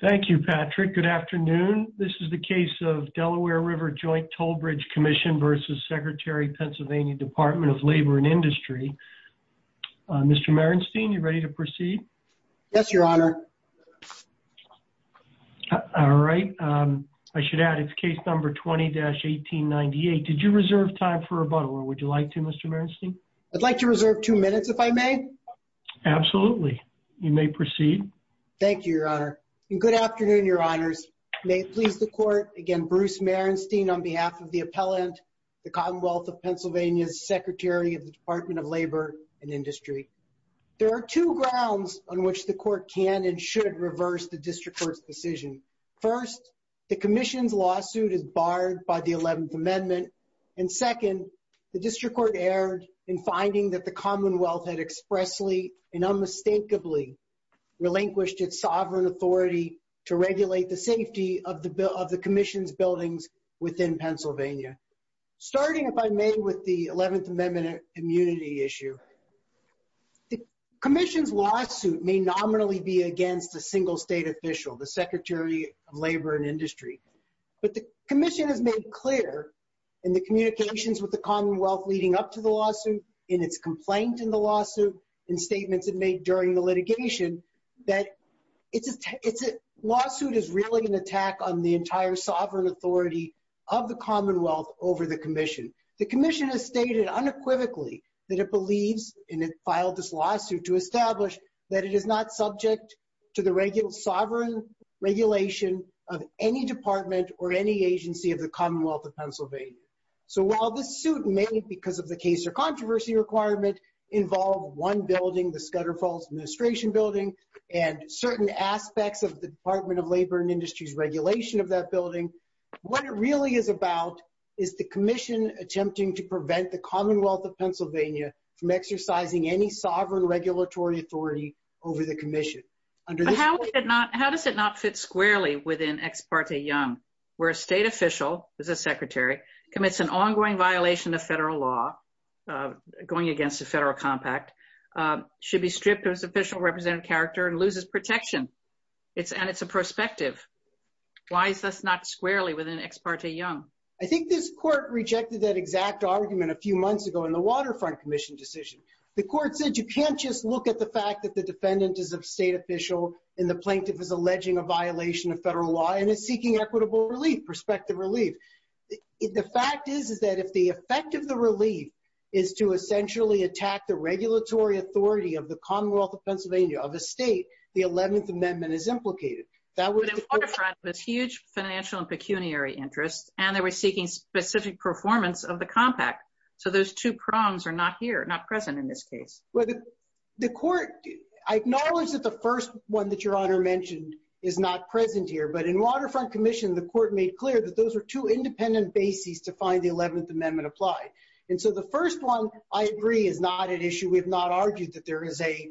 Thank you, Patrick. Good afternoon. This is the case of Delaware River Joint Toll Bridge Commission versus Secretary Pennsylvania Department of Labor and Industry. Mr Marenstein, you ready to proceed? Yes, Your Honor. All right. I should add its case number 20-18 98. Did you reserve time for a butler? Would you like to Mr Marenstein? I'd like to reserve two minutes if I may. Absolutely. You may proceed. Thank you, Your Honor. Good afternoon, Your Honors. May it please the Court, again, Bruce Marenstein on behalf of the appellant, the Commonwealth of Pennsylvania's Secretary of the Department of Labor and Industry. There are two grounds on which the Court can and should reverse the District Court's decision. First, the Commission's lawsuit is barred by the 11th Amendment. And second, the District Court erred in finding that the Commonwealth had expressly and to regulate the safety of the Commission's buildings within Pennsylvania. Starting, if I may, with the 11th Amendment immunity issue, the Commission's lawsuit may nominally be against a single state official, the Secretary of Labor and Industry. But the Commission has made clear in the communications with the Commonwealth leading up to the lawsuit, in its complaint in the lawsuit, in statements it made during the litigation, that it's lawsuit is really an attack on the entire sovereign authority of the Commonwealth over the Commission. The Commission has stated unequivocally that it believes, and it filed this lawsuit to establish, that it is not subject to the regular sovereign regulation of any department or any agency of the Commonwealth of Pennsylvania. So while this suit may, because of the case or controversy requirement, involve one building, the Department of Labor and Industry's regulation of that building, what it really is about is the Commission attempting to prevent the Commonwealth of Pennsylvania from exercising any sovereign regulatory authority over the Commission. But how does it not fit squarely within Ex parte Young, where a state official, who's a secretary, commits an ongoing violation of federal law, going against a federal compact, should be stripped of his official representative character and loses protection? It's and it's a prospective. Why is this not squarely within Ex parte Young? I think this court rejected that exact argument a few months ago in the Waterfront Commission decision. The court said you can't just look at the fact that the defendant is a state official, and the plaintiff is alleging a violation of federal law and is seeking equitable relief, prospective relief. The fact is, is that if the effect of the relief is to essentially attack the state, the 11th Amendment is implicated. That was a huge financial and pecuniary interest, and they were seeking specific performance of the compact. So those two prongs are not here, not present in this case. Well, the court, I acknowledge that the first one that Your Honor mentioned, is not present here. But in Waterfront Commission, the court made clear that those are two independent bases to find the 11th Amendment applied. And so the first one, I agree, is not an issue. We have not argued that there is a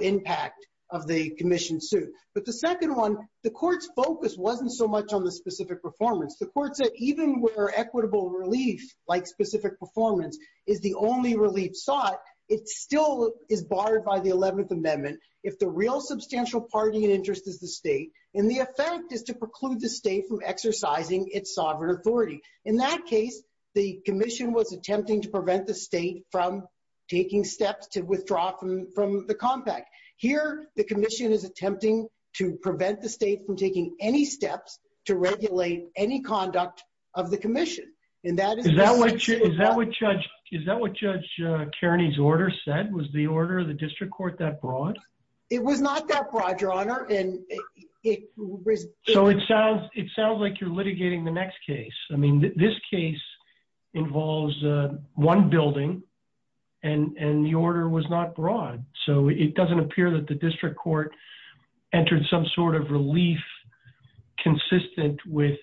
impact of the commission suit. But the second one, the court's focus wasn't so much on the specific performance. The court said even where equitable relief, like specific performance, is the only relief sought, it still is barred by the 11th Amendment. If the real substantial party in interest is the state, and the effect is to preclude the state from exercising its sovereign authority. In that case, the commission was attempting to prevent the state from taking steps to Here, the commission is attempting to prevent the state from taking any steps to regulate any conduct of the commission. And that is Is that what Judge Kearney's order said? Was the order of the district court that broad? It was not that broad, Your Honor. So it sounds like you're litigating the next case. I mean, this case involves one building, and the order was not broad. So it doesn't appear that the district court entered some sort of relief consistent with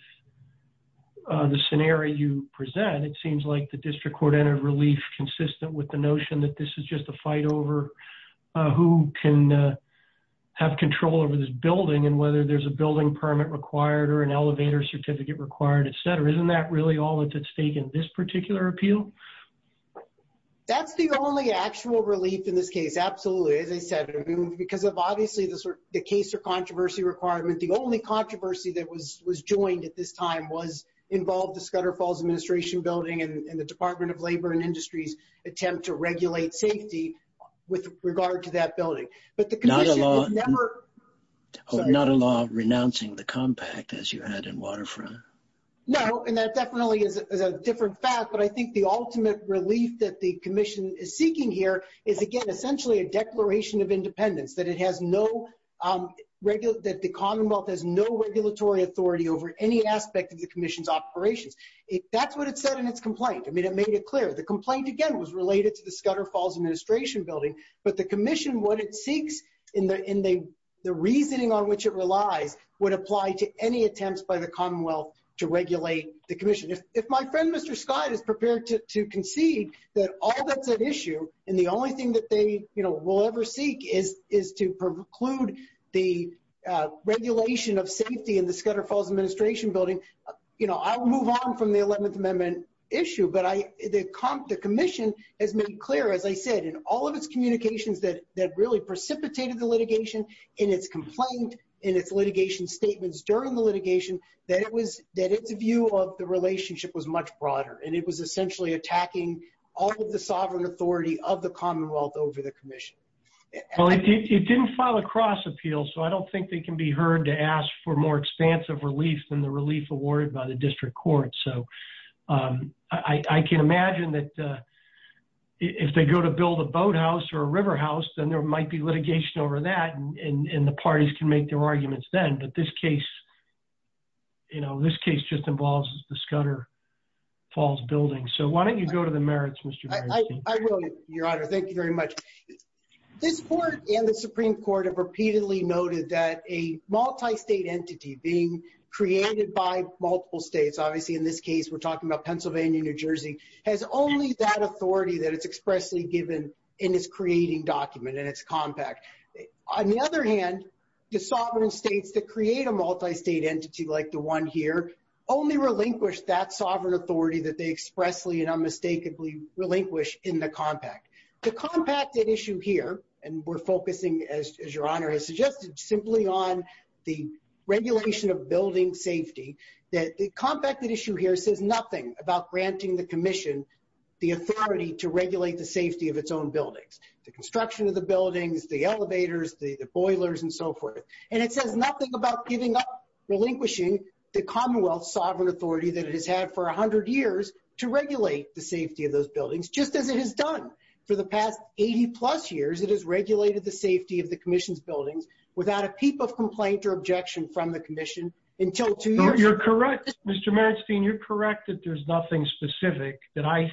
the scenario you present. It seems like the district court entered relief consistent with the notion that this is just a fight over who can have control over this building and whether there's a building permit required or an elevator certificate required, etc. Isn't that really all that's at stake in this particular appeal? That's the only actual relief in this case. Absolutely. As I said, because of obviously the sort of the case or controversy requirement, the only controversy that was was joined at this time was involved the Scudder Falls Administration building and the Department of Labor and Industries attempt to regulate safety with regard to that building. But the commission never Not a law renouncing the compact as you had in Waterfront. No, and that definitely is a different fact. But I think the ultimate relief that the commission is seeking here is again essentially a declaration of independence that it has no regular that the Commonwealth has no regulatory authority over any aspect of the commission's operations. That's what it said in its complaint. I mean, it made it clear the complaint again was related to the Scudder Falls Administration building, but the commission what it seeks in the in the reasoning on which it relies would apply to any attempts by the Commonwealth to regulate the commission. If my friend Mr Scott is prepared to concede that all that's an issue and the only thing that they will ever seek is is to preclude the regulation of safety in the Scudder Falls Administration building. You know, I will move on from the 11th Amendment issue, but I the comp the commission has made clear, as I said in all of its communications that that really precipitated the litigation in its complaint in its litigation statements during the litigation that it was that its view of the relationship was much broader and it was essentially attacking all of the sovereign authority of the Commonwealth over the commission. Well, it didn't file a cross appeal, so I don't think they can be heard to ask for more expansive relief than the relief awarded by the district court. So, um, I can imagine that, uh, if they go to build a boathouse or a river house, then there might be litigation over that. And the parties can make their this case, you know, this case just involves the Scudder Falls building. So why don't you go to the merits, Mr? I will, Your Honor. Thank you very much. This court and the Supreme Court have repeatedly noted that a multi state entity being created by multiple states. Obviously, in this case, we're talking about Pennsylvania. New Jersey has only that authority that it's expressly given in his creating document and it's compact. On the other hand, the sovereign states that create a multi state entity like the one here only relinquish that sovereign authority that they expressly and unmistakably relinquish in the compact. The compacted issue here, and we're focusing, as Your Honor has suggested, simply on the regulation of building safety that the compacted issue here says nothing about granting the commission the authority to regulate the safety of its own boilers and so forth. And it says nothing about giving up relinquishing the Commonwealth sovereign authority that it has had for 100 years to regulate the safety of those buildings, just as it has done for the past 80 plus years. It is regulated the safety of the commission's buildings without a peep of complaint or objection from the commission until two years. You're correct, Mr Manstein. You're correct that there's nothing specific that I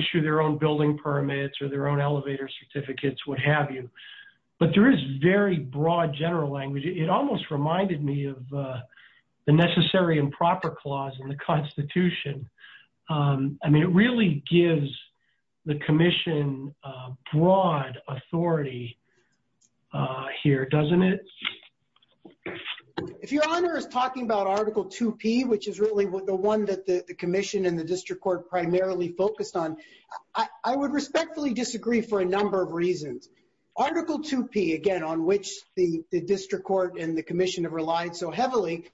issue their own building permits or their own elevator certificates, what have you. But there is very broad general language. It almost reminded me of, uh, the necessary improper clause in the Constitution. Um, I mean, it really gives the commission broad authority, uh, here, doesn't it? If your honor is talking about Article two P, which is really the one that the I would respectfully disagree for a number of reasons. Article two P again, on which the district court and the commission have relied so heavily,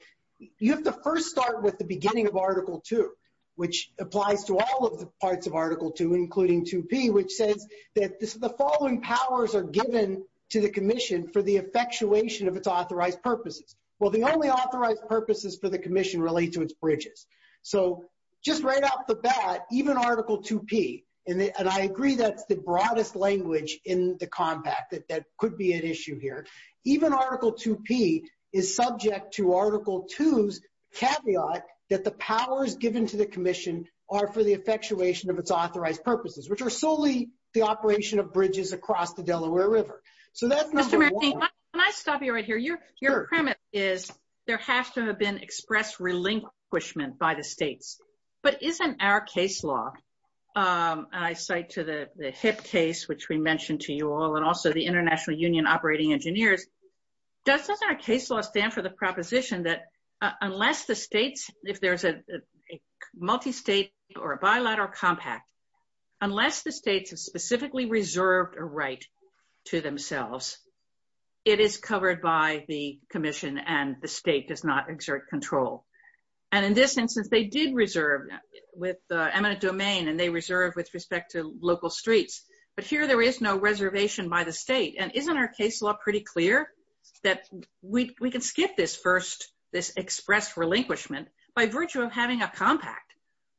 you have to first start with the beginning of Article two, which applies to all of the parts of Article two, including two P, which says that the following powers are given to the commission for the effectuation of its authorized purposes. Well, the only authorized purposes for the commission relate to bridges. So just right off the bat, even Article two P and I agree that's the broadest language in the compact that could be an issue here. Even Article two P is subject to Article two's caveat that the powers given to the commission are for the effectuation of its authorized purposes, which are solely the operation of bridges across the Delaware River. So that's Mr Manstein. Can I stop you right here? Your premise is there has to have been express relinquishment by the states. But isn't our case law, I cite to the HIP case, which we mentioned to you all, and also the International Union Operating Engineers, doesn't our case law stand for the proposition that unless the states, if there's a multistate or a bilateral compact, unless the states have specifically reserved a right to themselves, it is not exert control. And in this instance, they did reserve with eminent domain and they reserve with respect to local streets. But here there is no reservation by the state. And isn't our case law pretty clear that we can skip this first, this expressed relinquishment by virtue of having a compact.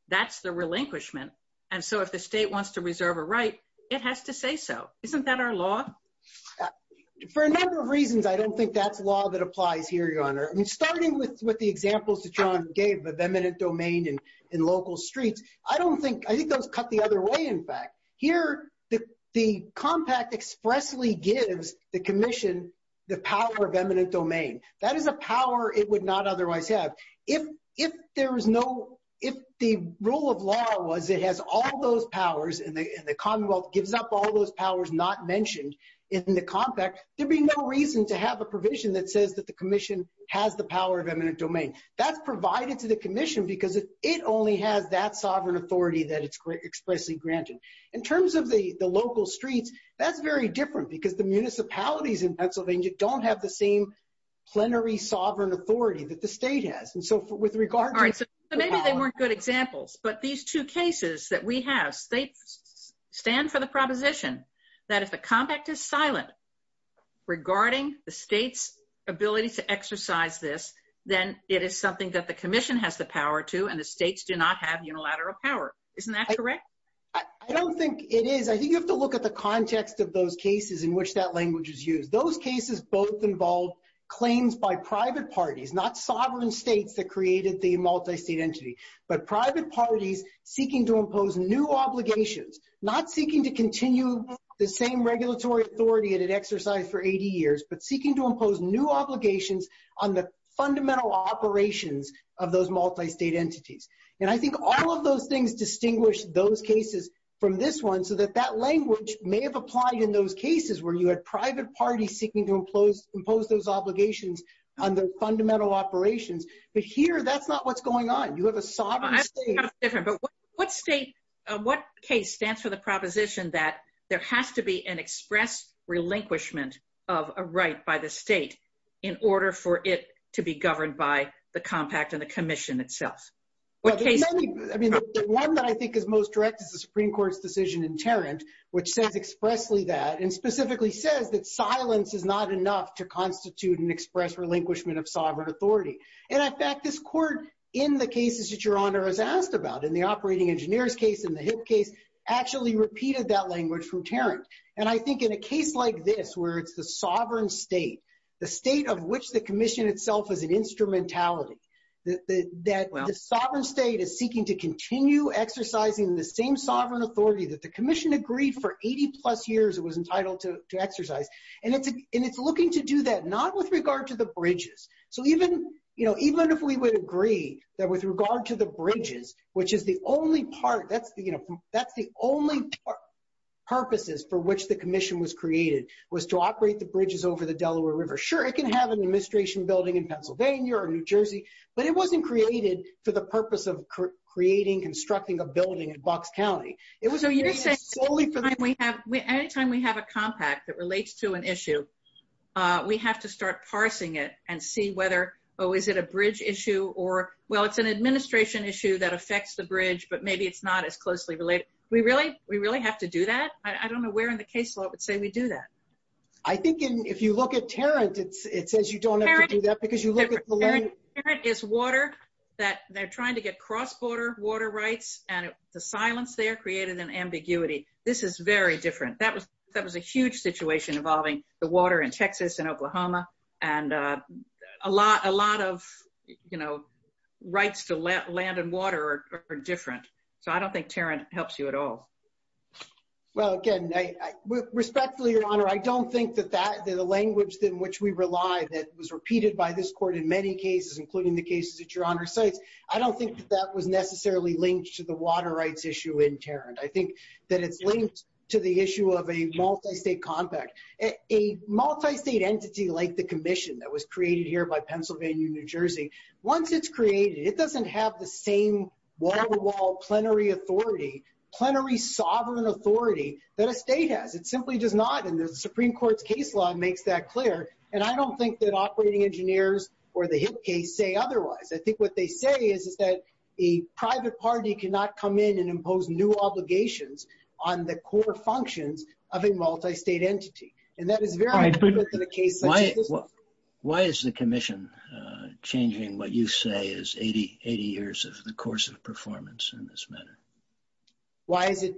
That's the relinquishment. And so if the state wants to reserve a right, it has to say so. Isn't that our law? For a number of reasons, I don't think that's law that applies here, Your Honor. I agree with the examples that John gave of eminent domain and in local streets. I think those cut the other way, in fact. Here, the compact expressly gives the Commission the power of eminent domain. That is a power it would not otherwise have. If the rule of law was it has all those powers and the Commonwealth gives up all those powers not mentioned in the compact, there'd be no reason to have a provision that says that the Commission has the power of eminent domain. That's provided to the Commission because it only has that sovereign authority that it's expressly granted. In terms of the local streets, that's very different because the municipalities in Pennsylvania don't have the same plenary sovereign authority that the state has. And so with regard... All right, so maybe they weren't good examples, but these two cases that we regarding the state's ability to exercise this, then it is something that the Commission has the power to and the states do not have unilateral power. Isn't that correct? I don't think it is. I think you have to look at the context of those cases in which that language is used. Those cases both involved claims by private parties, not sovereign states that created the multi-state entity, but private parties seeking to impose new obligations, not seeking to continue the same regulatory authority that it exercised for 80 years, but seeking to impose new obligations on the fundamental operations of those multi-state entities. And I think all of those things distinguish those cases from this one, so that that language may have applied in those cases where you had private parties seeking to impose those obligations on the fundamental operations. But here, that's not what's going on. You have a sovereign state... I think that's different. But what state, what case stands for the proposition that there has to be an express relinquishment of a right by the state in order for it to be governed by the Compact and the Commission itself? I mean, the one that I think is most direct is the Supreme Court's decision in Tarrant, which says expressly that and specifically says that silence is not enough to constitute an express relinquishment of sovereign authority. And in fact, this court, in the cases that Your Honor has asked about, in the case of the Supreme Court, has removed that language from Tarrant. And I think in a case like this, where it's the sovereign state, the state of which the Commission itself is an instrumentality, that the sovereign state is seeking to continue exercising the same sovereign authority that the Commission agreed for 80 plus years it was entitled to exercise. And it's looking to do that not with regard to the bridges. So even if we would agree that with regard to the purposes for which the Commission was created, was to operate the bridges over the Delaware River, sure, it can have an administration building in Pennsylvania or New Jersey, but it wasn't created for the purpose of creating, constructing a building in Bucks County. It was only for the time we have, anytime we have a Compact that relates to an issue, we have to start parsing it and see whether, oh, is it a bridge issue? Or well, it's an administration issue that affects the bridge, but maybe it's not as closely related. We really, we really have to do that. I don't know where in the case law it would say we do that. I think if you look at Tarrant, it says you don't have to do that because you look at the land... Tarrant is water that they're trying to get cross-border water rights, and the silence there created an ambiguity. This is very different. That was a huge situation involving the water in Texas and Oklahoma, and a lot of rights to land and water are different. So I don't think Tarrant helps you at all. Well, again, respectfully, Your Honor, I don't think that the language in which we rely that was repeated by this court in many cases, including the cases that Your Honor cites, I don't think that that was necessarily linked to the water rights issue in Tarrant. I think that it's linked to the issue of a multi-state compact. A multi-state entity like the Commission that was created here by Pennsylvania, New Jersey, once it's created, it doesn't have the same wall-to-wall plenary authority, plenary sovereign authority that a state has. It simply does not, and the Supreme Court's case law makes that clear, and I don't think that operating engineers or the HIP case say otherwise. I think what they say is that a private party cannot come in and impose new obligations on the core functions of a multi-state entity, and that is very different than a case such as this one. Why is the Commission changing what you say is 80 years of the course of performance in this matter? Why is it,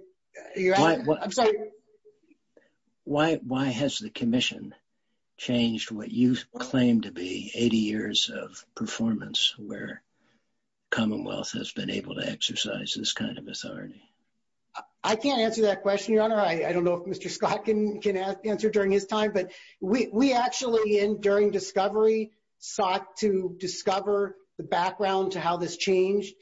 Your Honor? I'm sorry. Why has the Commission changed what you claim to be 80 years of performance where Commonwealth has been able to exercise this kind of authority? I can't answer that question, Your Honor. I don't know if Mr. Scott can answer during his time, but we actually, during discovery, sought to discover the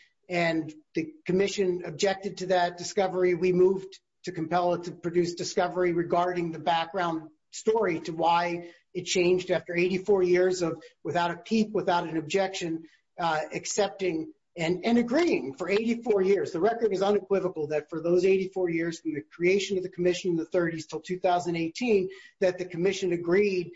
Commission objected to that discovery. We moved to compel it to produce discovery regarding the background story to why it changed after 84 years of, without a peep, without an objection, accepting and agreeing for 84 years. The record is unequivocal that for those 84 years from the creation of the Commission in the 30s until 2018, that the Commission agreed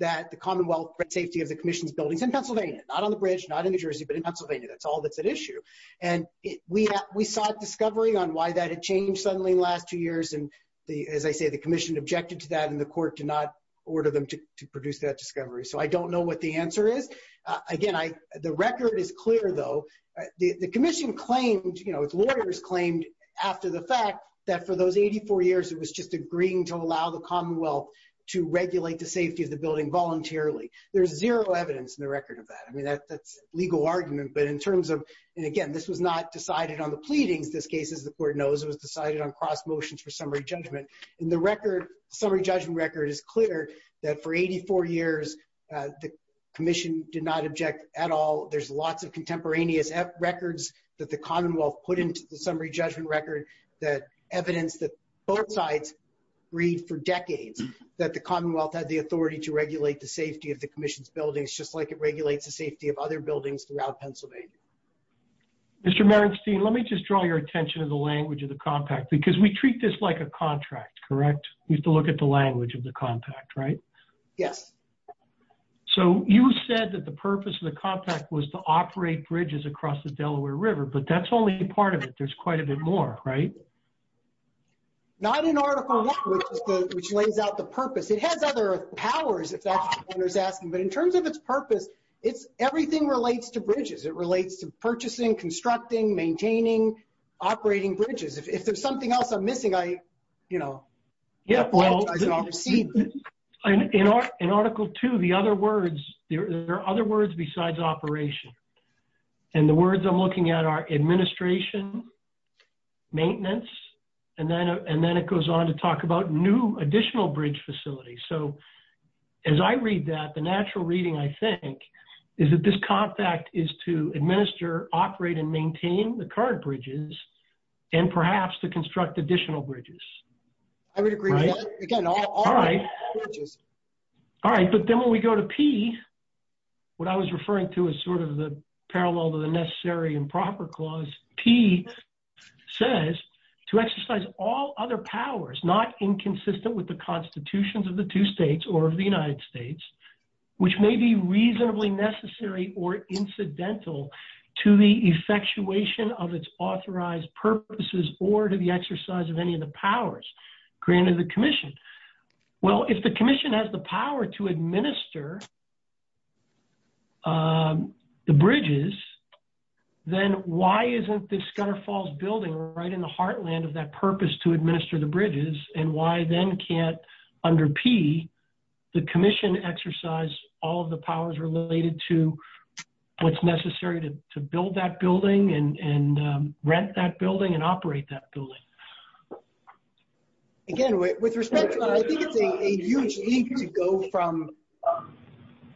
that the Commonwealth for the safety of the Commission's buildings in Pennsylvania, not on the bridge, not in Pennsylvania, that's all that's at issue. And we sought discovery on why that had changed suddenly in the last two years. And as I say, the Commission objected to that and the court did not order them to produce that discovery. So I don't know what the answer is. Again, the record is clear, though. The Commission claimed, you know, its lawyers claimed after the fact that for those 84 years, it was just agreeing to allow the Commonwealth to regulate the safety of the building voluntarily. There's zero evidence in the record of that. I mean, that's legal argument. But in terms of, and again, this was not decided on the pleadings this case, as the court knows, it was decided on cross motions for summary judgment. And the record, summary judgment record, is clear that for 84 years, the Commission did not object at all. There's lots of contemporaneous records that the Commonwealth put into the summary judgment record that evidence that both sides agreed for decades that the Commonwealth had the authority to regulate the safety of the Commission's buildings, just like it did throughout Pennsylvania. Mr. Merenstein, let me just draw your attention to the language of the Compact, because we treat this like a contract, correct? We have to look at the language of the Compact, right? Yes. So you said that the purpose of the Compact was to operate bridges across the Delaware River, but that's only a part of it. There's quite a bit more, right? Not in Article One, which lays out the purpose. It has other powers, if that's the case. It relates to purchasing, constructing, maintaining, operating bridges. If there's something else I'm missing, I, you know, apologize in advance. In Article Two, the other words, there are other words besides operation. And the words I'm looking at are administration, maintenance, and then it goes on to talk about new additional bridge facilities. So, as I read that, the natural reading, I think, is that this Compact is to administer, operate, and maintain the current bridges, and perhaps to construct additional bridges. I would agree. Again, all bridges. All right. But then when we go to P, what I was referring to as sort of the parallel to the necessary and proper clause, P says, to exercise all other powers, not inconsistent with the constitutions of the two states or of the commission, which may be reasonably necessary or incidental to the effectuation of its authorized purposes or to the exercise of any of the powers granted the commission. Well, if the commission has the power to administer the bridges, then why isn't the Scudder Falls building right in the heartland of that purpose to administer the bridges? And why then can't, under P, the commission exercise all of the powers related to what's necessary to build that building and rent that building and operate that building? Again, with respect to that, I think it's a huge leap to go from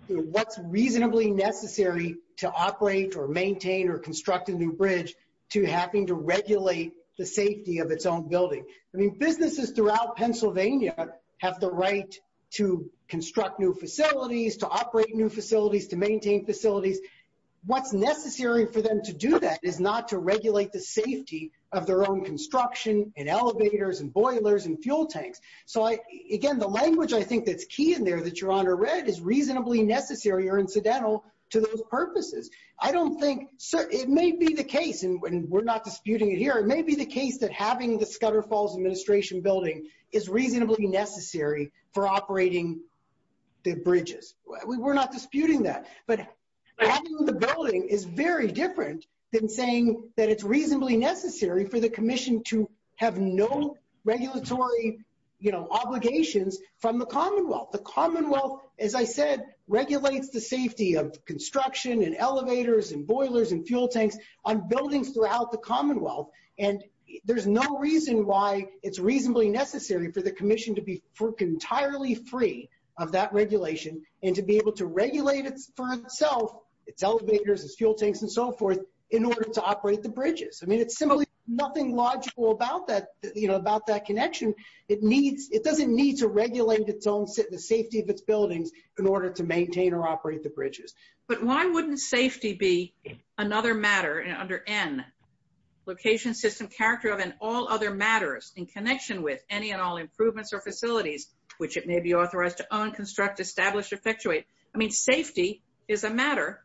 what's reasonably necessary to operate or maintain or construct a new bridge to having to regulate the safety of its own building. I mean, businesses throughout Pennsylvania have the right to construct new facilities, to operate new facilities, to maintain facilities. What's necessary for them to do that is not to regulate the safety of their own construction and elevators and boilers and fuel tanks. So again, the language I think that's key in there that your honor read is reasonably necessary or incidental to those purposes. I don't think so. It may be the case, and we're not disputing it here. It may be the Scudder Falls administration building is reasonably necessary for operating the bridges. We're not disputing that. But having the building is very different than saying that it's reasonably necessary for the commission to have no regulatory obligations from the commonwealth. The commonwealth, as I said, regulates the safety of construction and elevators and boilers and fuel tanks on the commons. And there's no reason why it's reasonably necessary for the commission to be entirely free of that regulation and to be able to regulate it for itself, its elevators, its fuel tanks and so forth, in order to operate the bridges. I mean, it's simply nothing logical about that, you know, about that connection. It needs, it doesn't need to regulate its own safety of its buildings in order to maintain or operate the bridges. But why wouldn't safety be another matter under N, location, system, character of and all other matters in connection with any and all improvements or facilities, which it may be authorized to own, construct, establish, effectuate? I mean, safety is a matter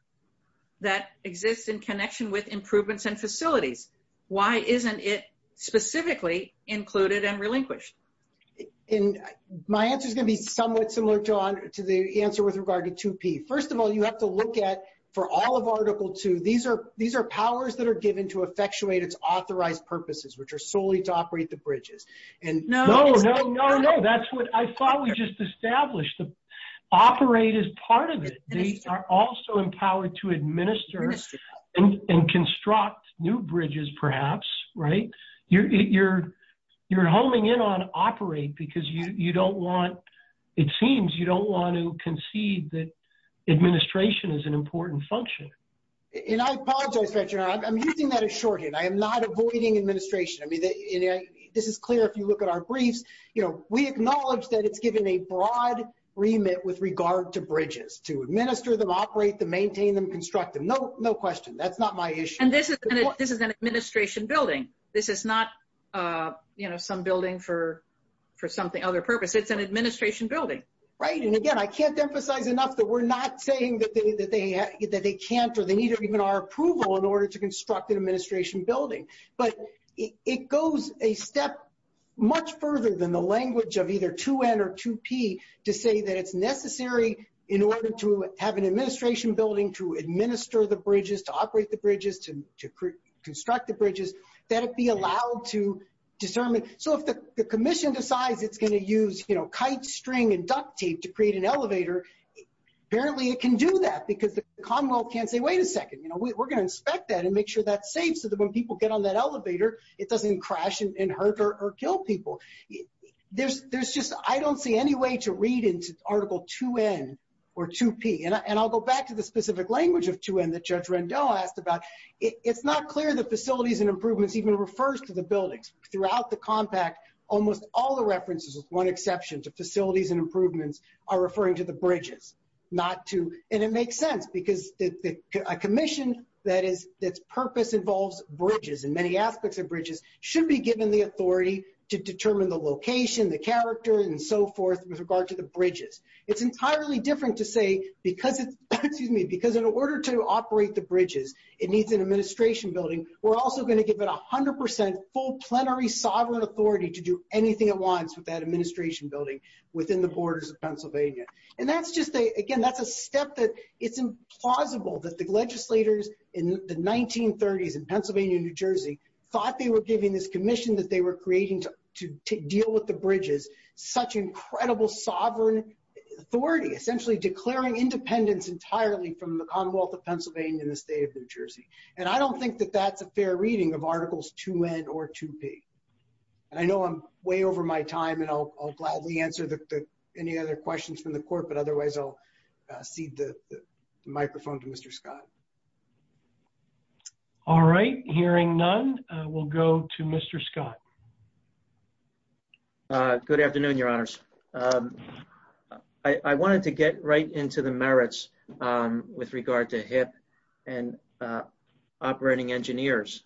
that exists in connection with improvements and facilities. Why isn't it specifically included and relinquished? And my answer is going to be somewhat similar, John, to the answer with regard to 2P. First of all, you have to look at, for all of Article 2, these are powers that are given to effectuate its authorized purposes, which are solely to operate the bridges. No, no, no, that's what I thought we just established. Operate is part of it. They are also empowered to administer and construct new bridges, perhaps, right? You're homing in on operate because you don't want, it seems you don't want to concede that administration is an important function. And I apologize, I'm using that as shorthand. I am not avoiding administration. I mean, this is clear if you look at our briefs, you know, we acknowledge that it's given a broad remit with regard to bridges, to administer them, operate them, maintain them, construct them. No, no question. That's not my issue. And this is an administration building. This is not, you know, some building for something other purpose. It's an administration building. Right. And again, I can't emphasize enough that we're not saying that they can't, or they need even our approval in order to construct an administration building. But it goes a step much further than the language of either 2N or 2P to say that it's necessary in order to have an administration building to administer the bridges, to determine. So if the commission decides it's going to use, you know, kite string and duct tape to create an elevator, apparently it can do that because the Commonwealth can't say, wait a second, you know, we're going to inspect that and make sure that's safe. So that when people get on that elevator, it doesn't crash and hurt or kill people. There's just, I don't see any way to read into article 2N or 2P. And I'll go back to the specific language of 2N that Judge Rendell asked about. It's not clear the facilities and buildings. Throughout the compact, almost all the references with one exception to facilities and improvements are referring to the bridges, not to, and it makes sense because a commission that is, that's purpose involves bridges and many aspects of bridges should be given the authority to determine the location, the character and so forth with regard to the bridges. It's entirely different to say, because it's, excuse me, because in order to operate the sovereign authority to do anything it wants with that administration building within the borders of Pennsylvania. And that's just a, again, that's a step that it's implausible that the legislators in the 1930s in Pennsylvania and New Jersey thought they were giving this commission that they were creating to deal with the bridges, such incredible sovereign authority, essentially declaring independence entirely from the Commonwealth of Pennsylvania and the state of New Jersey. And I don't think that that's a fair reading of articles 2N or 2P. And I know I'm way over my time and I'll gladly answer the, any other questions from the court, but otherwise I'll cede the microphone to Mr. Scott. All right. Hearing none, we'll go to Mr. Scott. Good afternoon, your honors. I wanted to get right into the merits with regard to HIPP and operating engineers.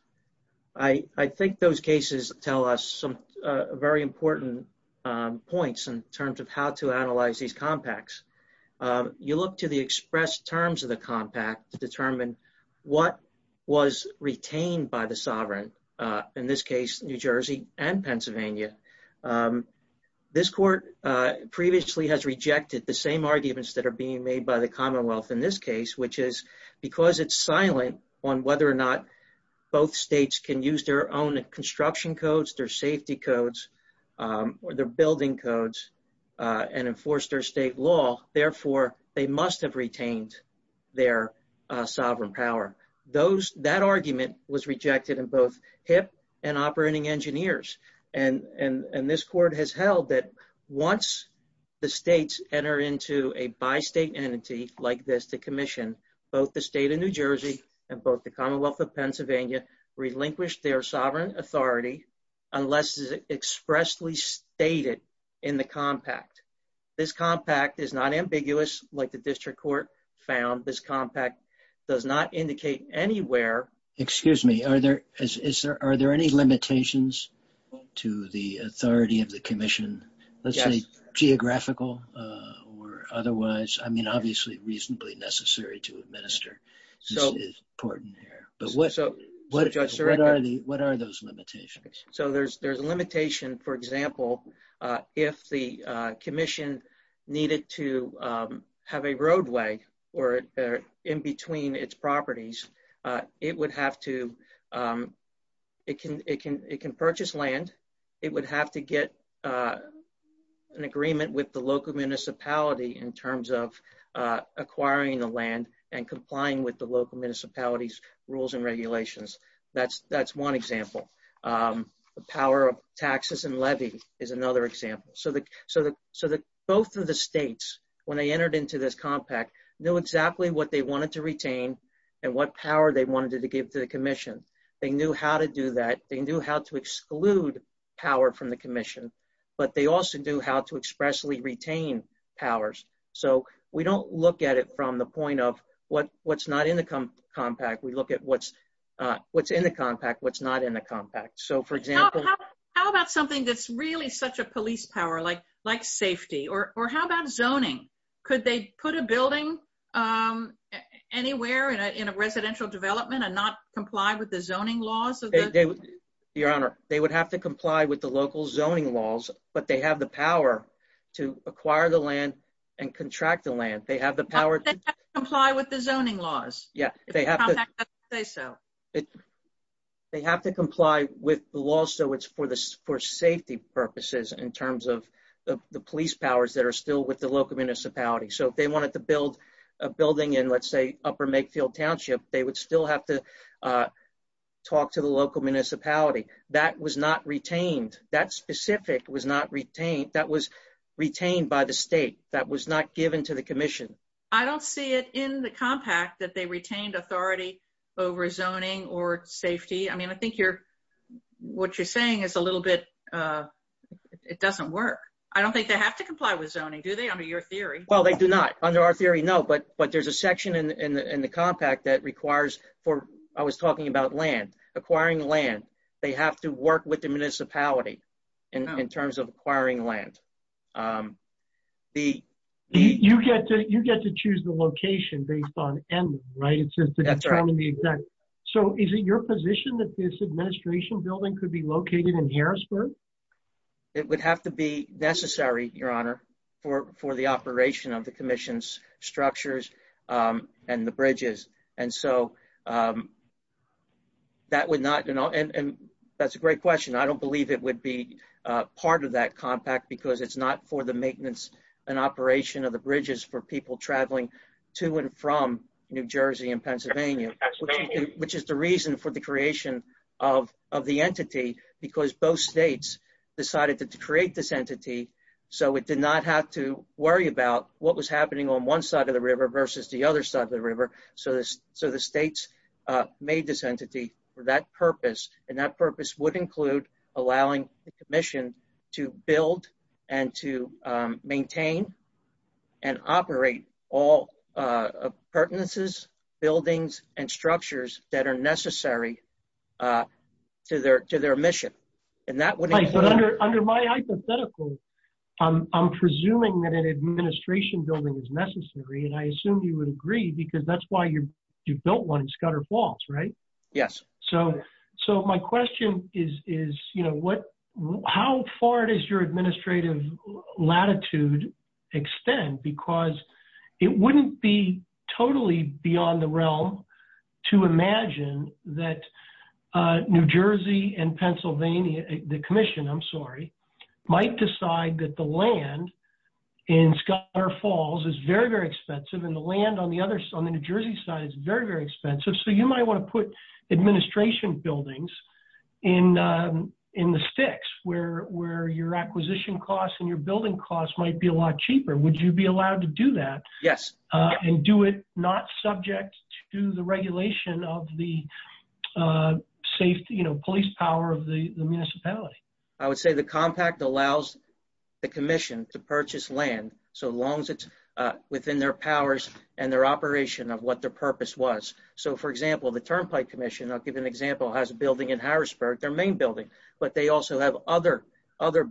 I think those cases tell us some very important points in terms of how to analyze these compacts. You look to the express terms of the compact to determine what was retained by the sovereign, in this case, New Jersey and Pennsylvania. This court previously has rejected the same arguments that are being made by the Commonwealth in this case, which is because it's silent on whether or not both states can use their own construction codes, their safety codes, or their building codes and enforce their state law, therefore they must have retained their sovereign power. That argument was rejected in both HIPP and operating engineers. And this court has held that once the states enter into a by-state entity like this to commission, both the state of New Jersey and both the Commonwealth of Pennsylvania relinquish their sovereign authority unless it is expressly stated in the compact. This compact is not ambiguous like the district court found. This compact does not indicate anywhere. Excuse me. Are there any limitations to the authority of the commission? Let's say geographical or otherwise, I mean, obviously, reasonably necessary to administer is important here. But what are those limitations? So there's a limitation, for example, if the commission needed to have a roadway or in between its properties, it would have to, it can purchase land, it would have to get an agreement with the local municipality in terms of acquiring the land and complying with the local municipalities rules and regulations. That's one example. The power of taxes and levy is another example. So that both of the states, when they entered into this compact, knew exactly what they wanted to retain and what power they they knew how to do that. They knew how to exclude power from the commission, but they also do how to expressly retain powers. So we don't look at it from the point of what's not in the compact. We look at what's in the compact, what's not in the compact. So for example, how about something that's really such a police power, like safety or how about zoning? Could they put a building anywhere in a residential development and not comply with the zoning laws? Your Honor, they would have to comply with the local zoning laws, but they have the power to acquire the land and contract the land. They have the power to comply with the zoning laws. They have to comply with the law so it's for safety purposes in terms of the police powers that are still with the local municipality. So if they wanted to build a building in, let's say, Upper Makefield Township, they would still have to talk to the local municipality. That was not retained. That specific was not retained. That was retained by the state. That was not given to the commission. I don't see it in the compact that they retained authority over zoning or safety. I mean, I think what you're saying is a little bit, it doesn't work. I don't think they have to comply with zoning, do they, under your theory? Well, they do not. Under our theory, no, but there's a section in the compact that requires for, I was talking about land, acquiring land. They have to work with the municipality in terms of acquiring land. You get to choose the location based on M, right? That's right. So is it your position that this for the operation of the commission's structures and the bridges? And so that would not, and that's a great question. I don't believe it would be part of that compact because it's not for the maintenance and operation of the bridges for people traveling to and from New Jersey and Pennsylvania, which is the reason for the not have to worry about what was happening on one side of the river versus the other side of the river. So the states made this entity for that purpose and that purpose would include allowing the commission to build and to maintain and operate all pertinences, buildings, and structures that are necessary to their mission. Under my hypothetical, I'm presuming that an administration building is necessary and I assume you would agree because that's why you built one in Scudder Falls, right? Yes. So my question is, how far does your administrative latitude extend? Because it wouldn't be totally beyond the realm to imagine that New Jersey and Pennsylvania, the commission, I'm sorry, might decide that the land in Scudder Falls is very, very expensive and the land on the other side, on the New Jersey side is very, very expensive. So you might want to put administration buildings in the sticks where your acquisition costs and your building costs might be a lot cheaper. Would you be allowed to do that? Yes. And do it not subject to the regulation of the police power of the municipality? I would say the compact allows the commission to purchase land so long as it's within their powers and their operation of what their purpose was. So for example, the Turnpike Commission, I'll give you an example, has a building in Harrisburg, their main building, but they also have other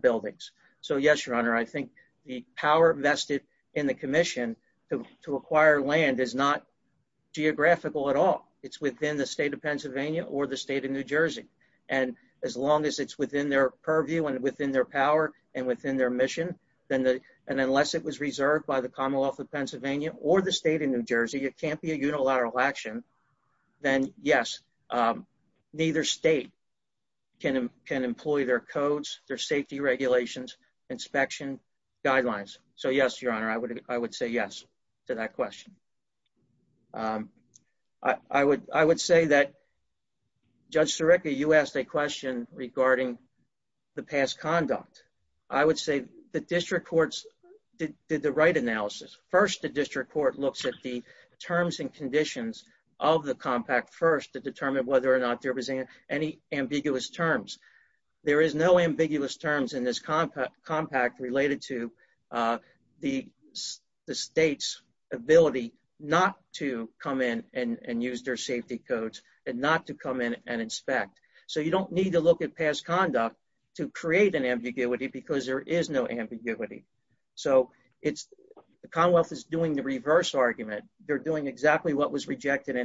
buildings. So yes, I think the power vested in the commission to acquire land is not geographical at all. It's within the state of Pennsylvania or the state of New Jersey. And as long as it's within their purview and within their power and within their mission, and unless it was reserved by the Commonwealth of Pennsylvania or the state of New Jersey, it can't be a unilateral action, then yes, neither state can employ their codes, their safety regulations, inspection guidelines. So yes, Your Honor, I would say yes to that question. I would say that Judge Sirica, you asked a question regarding the past conduct. I would say the district courts did the right analysis. First, the district court looks at the terms and conditions of the compact first to whether or not there was any ambiguous terms. There is no ambiguous terms in this compact related to the state's ability not to come in and use their safety codes and not to come in and inspect. So you don't need to look at past conduct to create an ambiguity because there is no ambiguity. So the Commonwealth is doing the reverse argument. They're doing exactly what was rejected by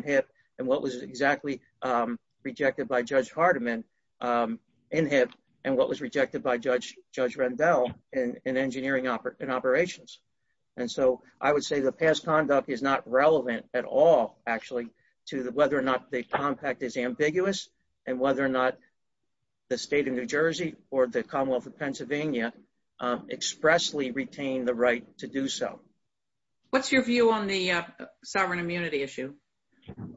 Judge Hardiman in it and what was rejected by Judge Rendell in engineering and operations. And so I would say the past conduct is not relevant at all, actually, to whether or not the compact is ambiguous and whether or not the state of New Jersey or the Commonwealth of Pennsylvania expressly retained the right to do so. What's your view on the sovereign immunity issue? Well,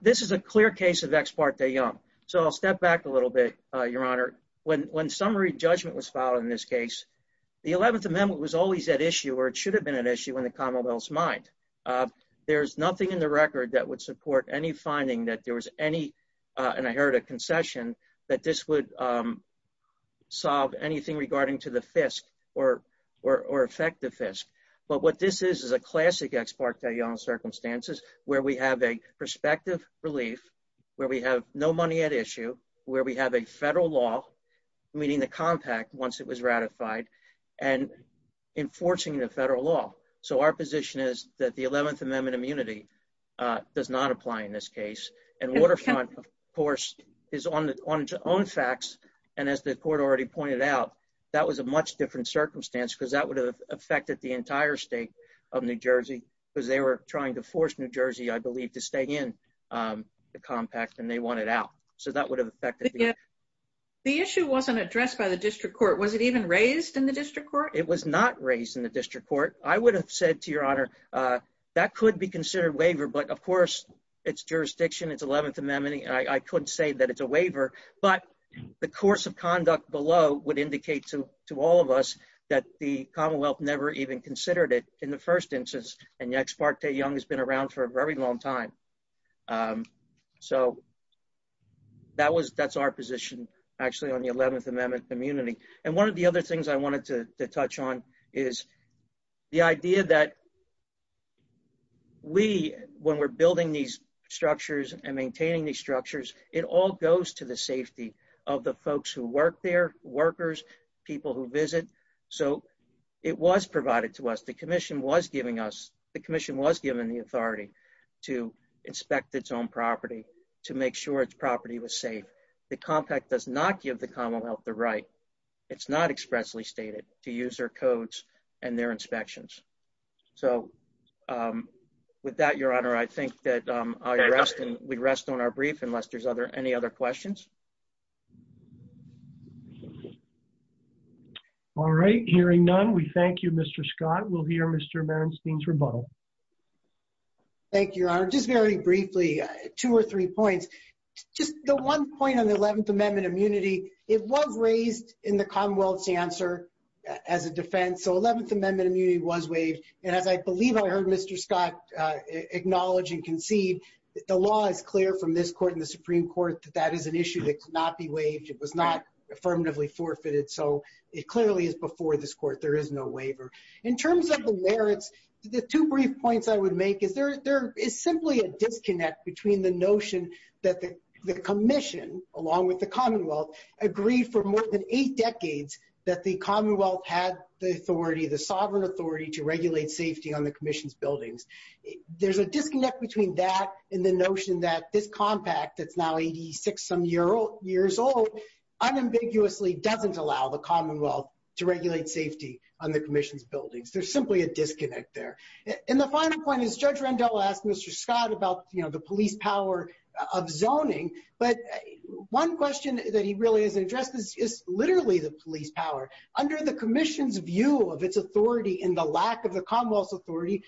this is a clear case of ex parte young. So I'll step back a little bit, Your Honor. When summary judgment was filed in this case, the 11th Amendment was always at issue or it should have been an issue in the Commonwealth's mind. There's nothing in the record that would support any finding that there was any, and I heard a concession, that this would solve anything to the FISC or affect the FISC. But what this is, is a classic ex parte young circumstances where we have a prospective relief, where we have no money at issue, where we have a federal law, meaning the compact once it was ratified, and enforcing the federal law. So our position is that the 11th Amendment immunity does not apply in this case. And Waterfront, of course, is on its own facts. And as the court already pointed out, that was a much different circumstance because that would have affected the entire state of New Jersey, because they were trying to force New Jersey, I believe, to stay in the compact and they wanted out. So that would have affected the issue. The issue wasn't addressed by the district court. Was it even raised in the district court? It was not raised in the district court. I would have said to Your Honor, that could be considered waiver, but of course, it's jurisdiction, it's 11th Amendment. I couldn't say that it's a waiver, but the course of conduct below would indicate to all of us that the Commonwealth never even considered it in the first instance. And the ex parte young has been around for a very long time. So that's our position, actually, on the 11th Amendment immunity. And one of the other things I wanted to touch on is the idea that we, when we're building these structures and maintaining these structures, it all goes to the safety of the folks who work there, workers, people who visit. So it was provided to us. The commission was giving us, the commission was given the authority to inspect its own property, to make sure its property was safe. The compact does not give Commonwealth the right, it's not expressly stated, to use their codes and their inspections. So with that, Your Honor, I think that I rest and we rest on our brief unless there's any other questions. All right, hearing none, we thank you, Mr. Scott. We'll hear Mr. Bernstein's rebuttal. Thank you, Your Honor. Just very briefly, two or three points. Just the one point on the 11th Amendment immunity, it was raised in the Commonwealth's answer as a defense. So 11th Amendment immunity was waived. And as I believe I heard Mr. Scott acknowledge and concede, the law is clear from this court and the Supreme Court that that is an issue that cannot be waived. It was not affirmatively forfeited. So it clearly is before this court, there is no waiver. In terms of the merits, the two brief points I would make there is simply a disconnect between the notion that the Commission, along with the Commonwealth, agreed for more than eight decades that the Commonwealth had the authority, the sovereign authority to regulate safety on the Commission's buildings. There's a disconnect between that and the notion that this compact that's now 86-some years old, unambiguously doesn't allow the Commonwealth to regulate safety on the Commission's buildings. There's simply a Mr. Scott about the police power of zoning. But one question that he really hasn't addressed is literally the police power. Under the Commission's view of its authority and the lack of the Commonwealth's authority,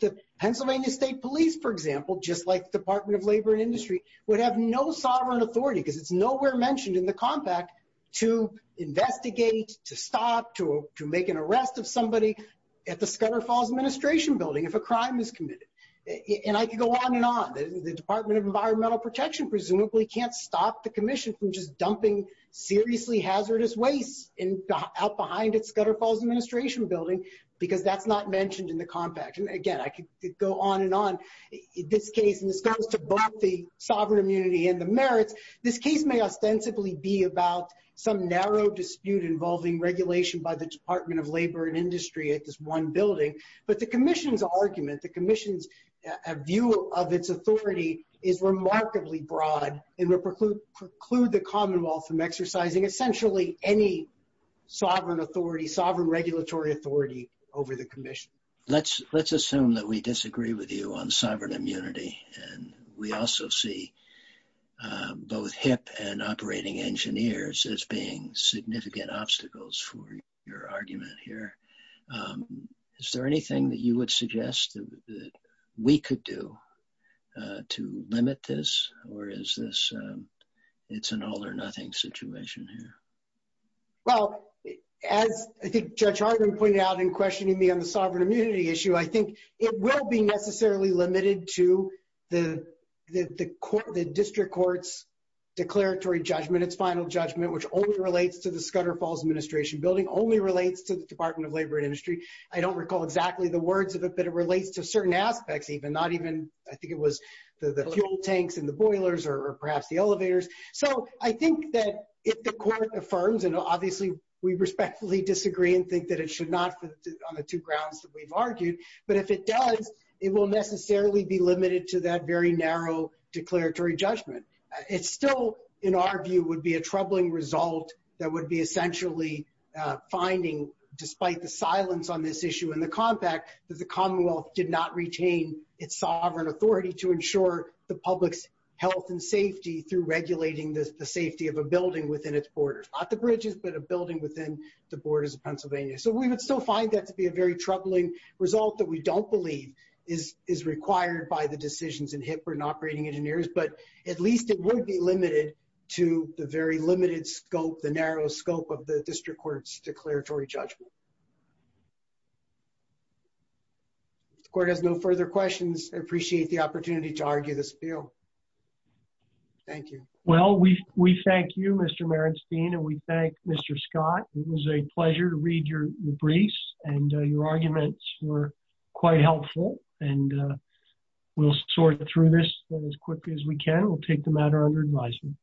the Pennsylvania State Police, for example, just like the Department of Labor and Industry, would have no sovereign authority because it's nowhere mentioned in the compact to investigate, to stop, to make an arrest of somebody at the Scudder Falls Administration building if a crime is committed. And I could go on and on. The Department of Environmental Protection presumably can't stop the Commission from just dumping seriously hazardous waste out behind its Scudder Falls Administration building because that's not mentioned in the compact. Again, I could go on and on. This case, and this goes to both the sovereign immunity and the merits, this case may ostensibly be about some narrow dispute involving regulation by the Department of Labor and Industry at this one building. But the Commission's argument, the Commission's view of its authority is remarkably broad and would preclude the Commonwealth from exercising essentially any sovereign regulatory authority over the Commission. Let's assume that we disagree with you on sovereign immunity. And we also see both HIP and operating engineers as being significant obstacles for your argument here. Is there anything that you would suggest that we could do to limit this? Or is this, it's an all or nothing situation here? Well, as I think Judge Harden pointed out in questioning me on the sovereign immunity issue, it will be necessarily limited to the district court's declaratory judgment, its final judgment, which only relates to the Scudder Falls Administration building, only relates to the Department of Labor and Industry. I don't recall exactly the words of it, but it relates to certain aspects even, not even, I think it was the fuel tanks and the boilers or perhaps the elevators. So I think that if the court affirms, and obviously we respectfully disagree and think that it should not fit on the two grounds that we've argued, but if it does, it will necessarily be limited to that very narrow declaratory judgment. It still, in our view, would be a troubling result that would be essentially finding, despite the silence on this issue in the compact, that the Commonwealth did not retain its sovereign authority to ensure the public's health and safety through regulating the safety of a building within its borders, not the bridges, but a building within the borders of Pennsylvania. So we would still find that to be a very troubling result that we don't believe is required by the decisions in HIPAA and operating engineers, but at least it would be limited to the very limited scope, the narrow scope of the district court's declaratory judgment. If the court has no further questions, I appreciate the opportunity to argue this appeal. Thank you. Well, we thank you, Mr. Merenstein, and we thank Mr. Scott. It was a pleasure to read your briefs and your arguments were quite helpful, and we'll sort through this as quickly as we can. We'll take the matter under advisement.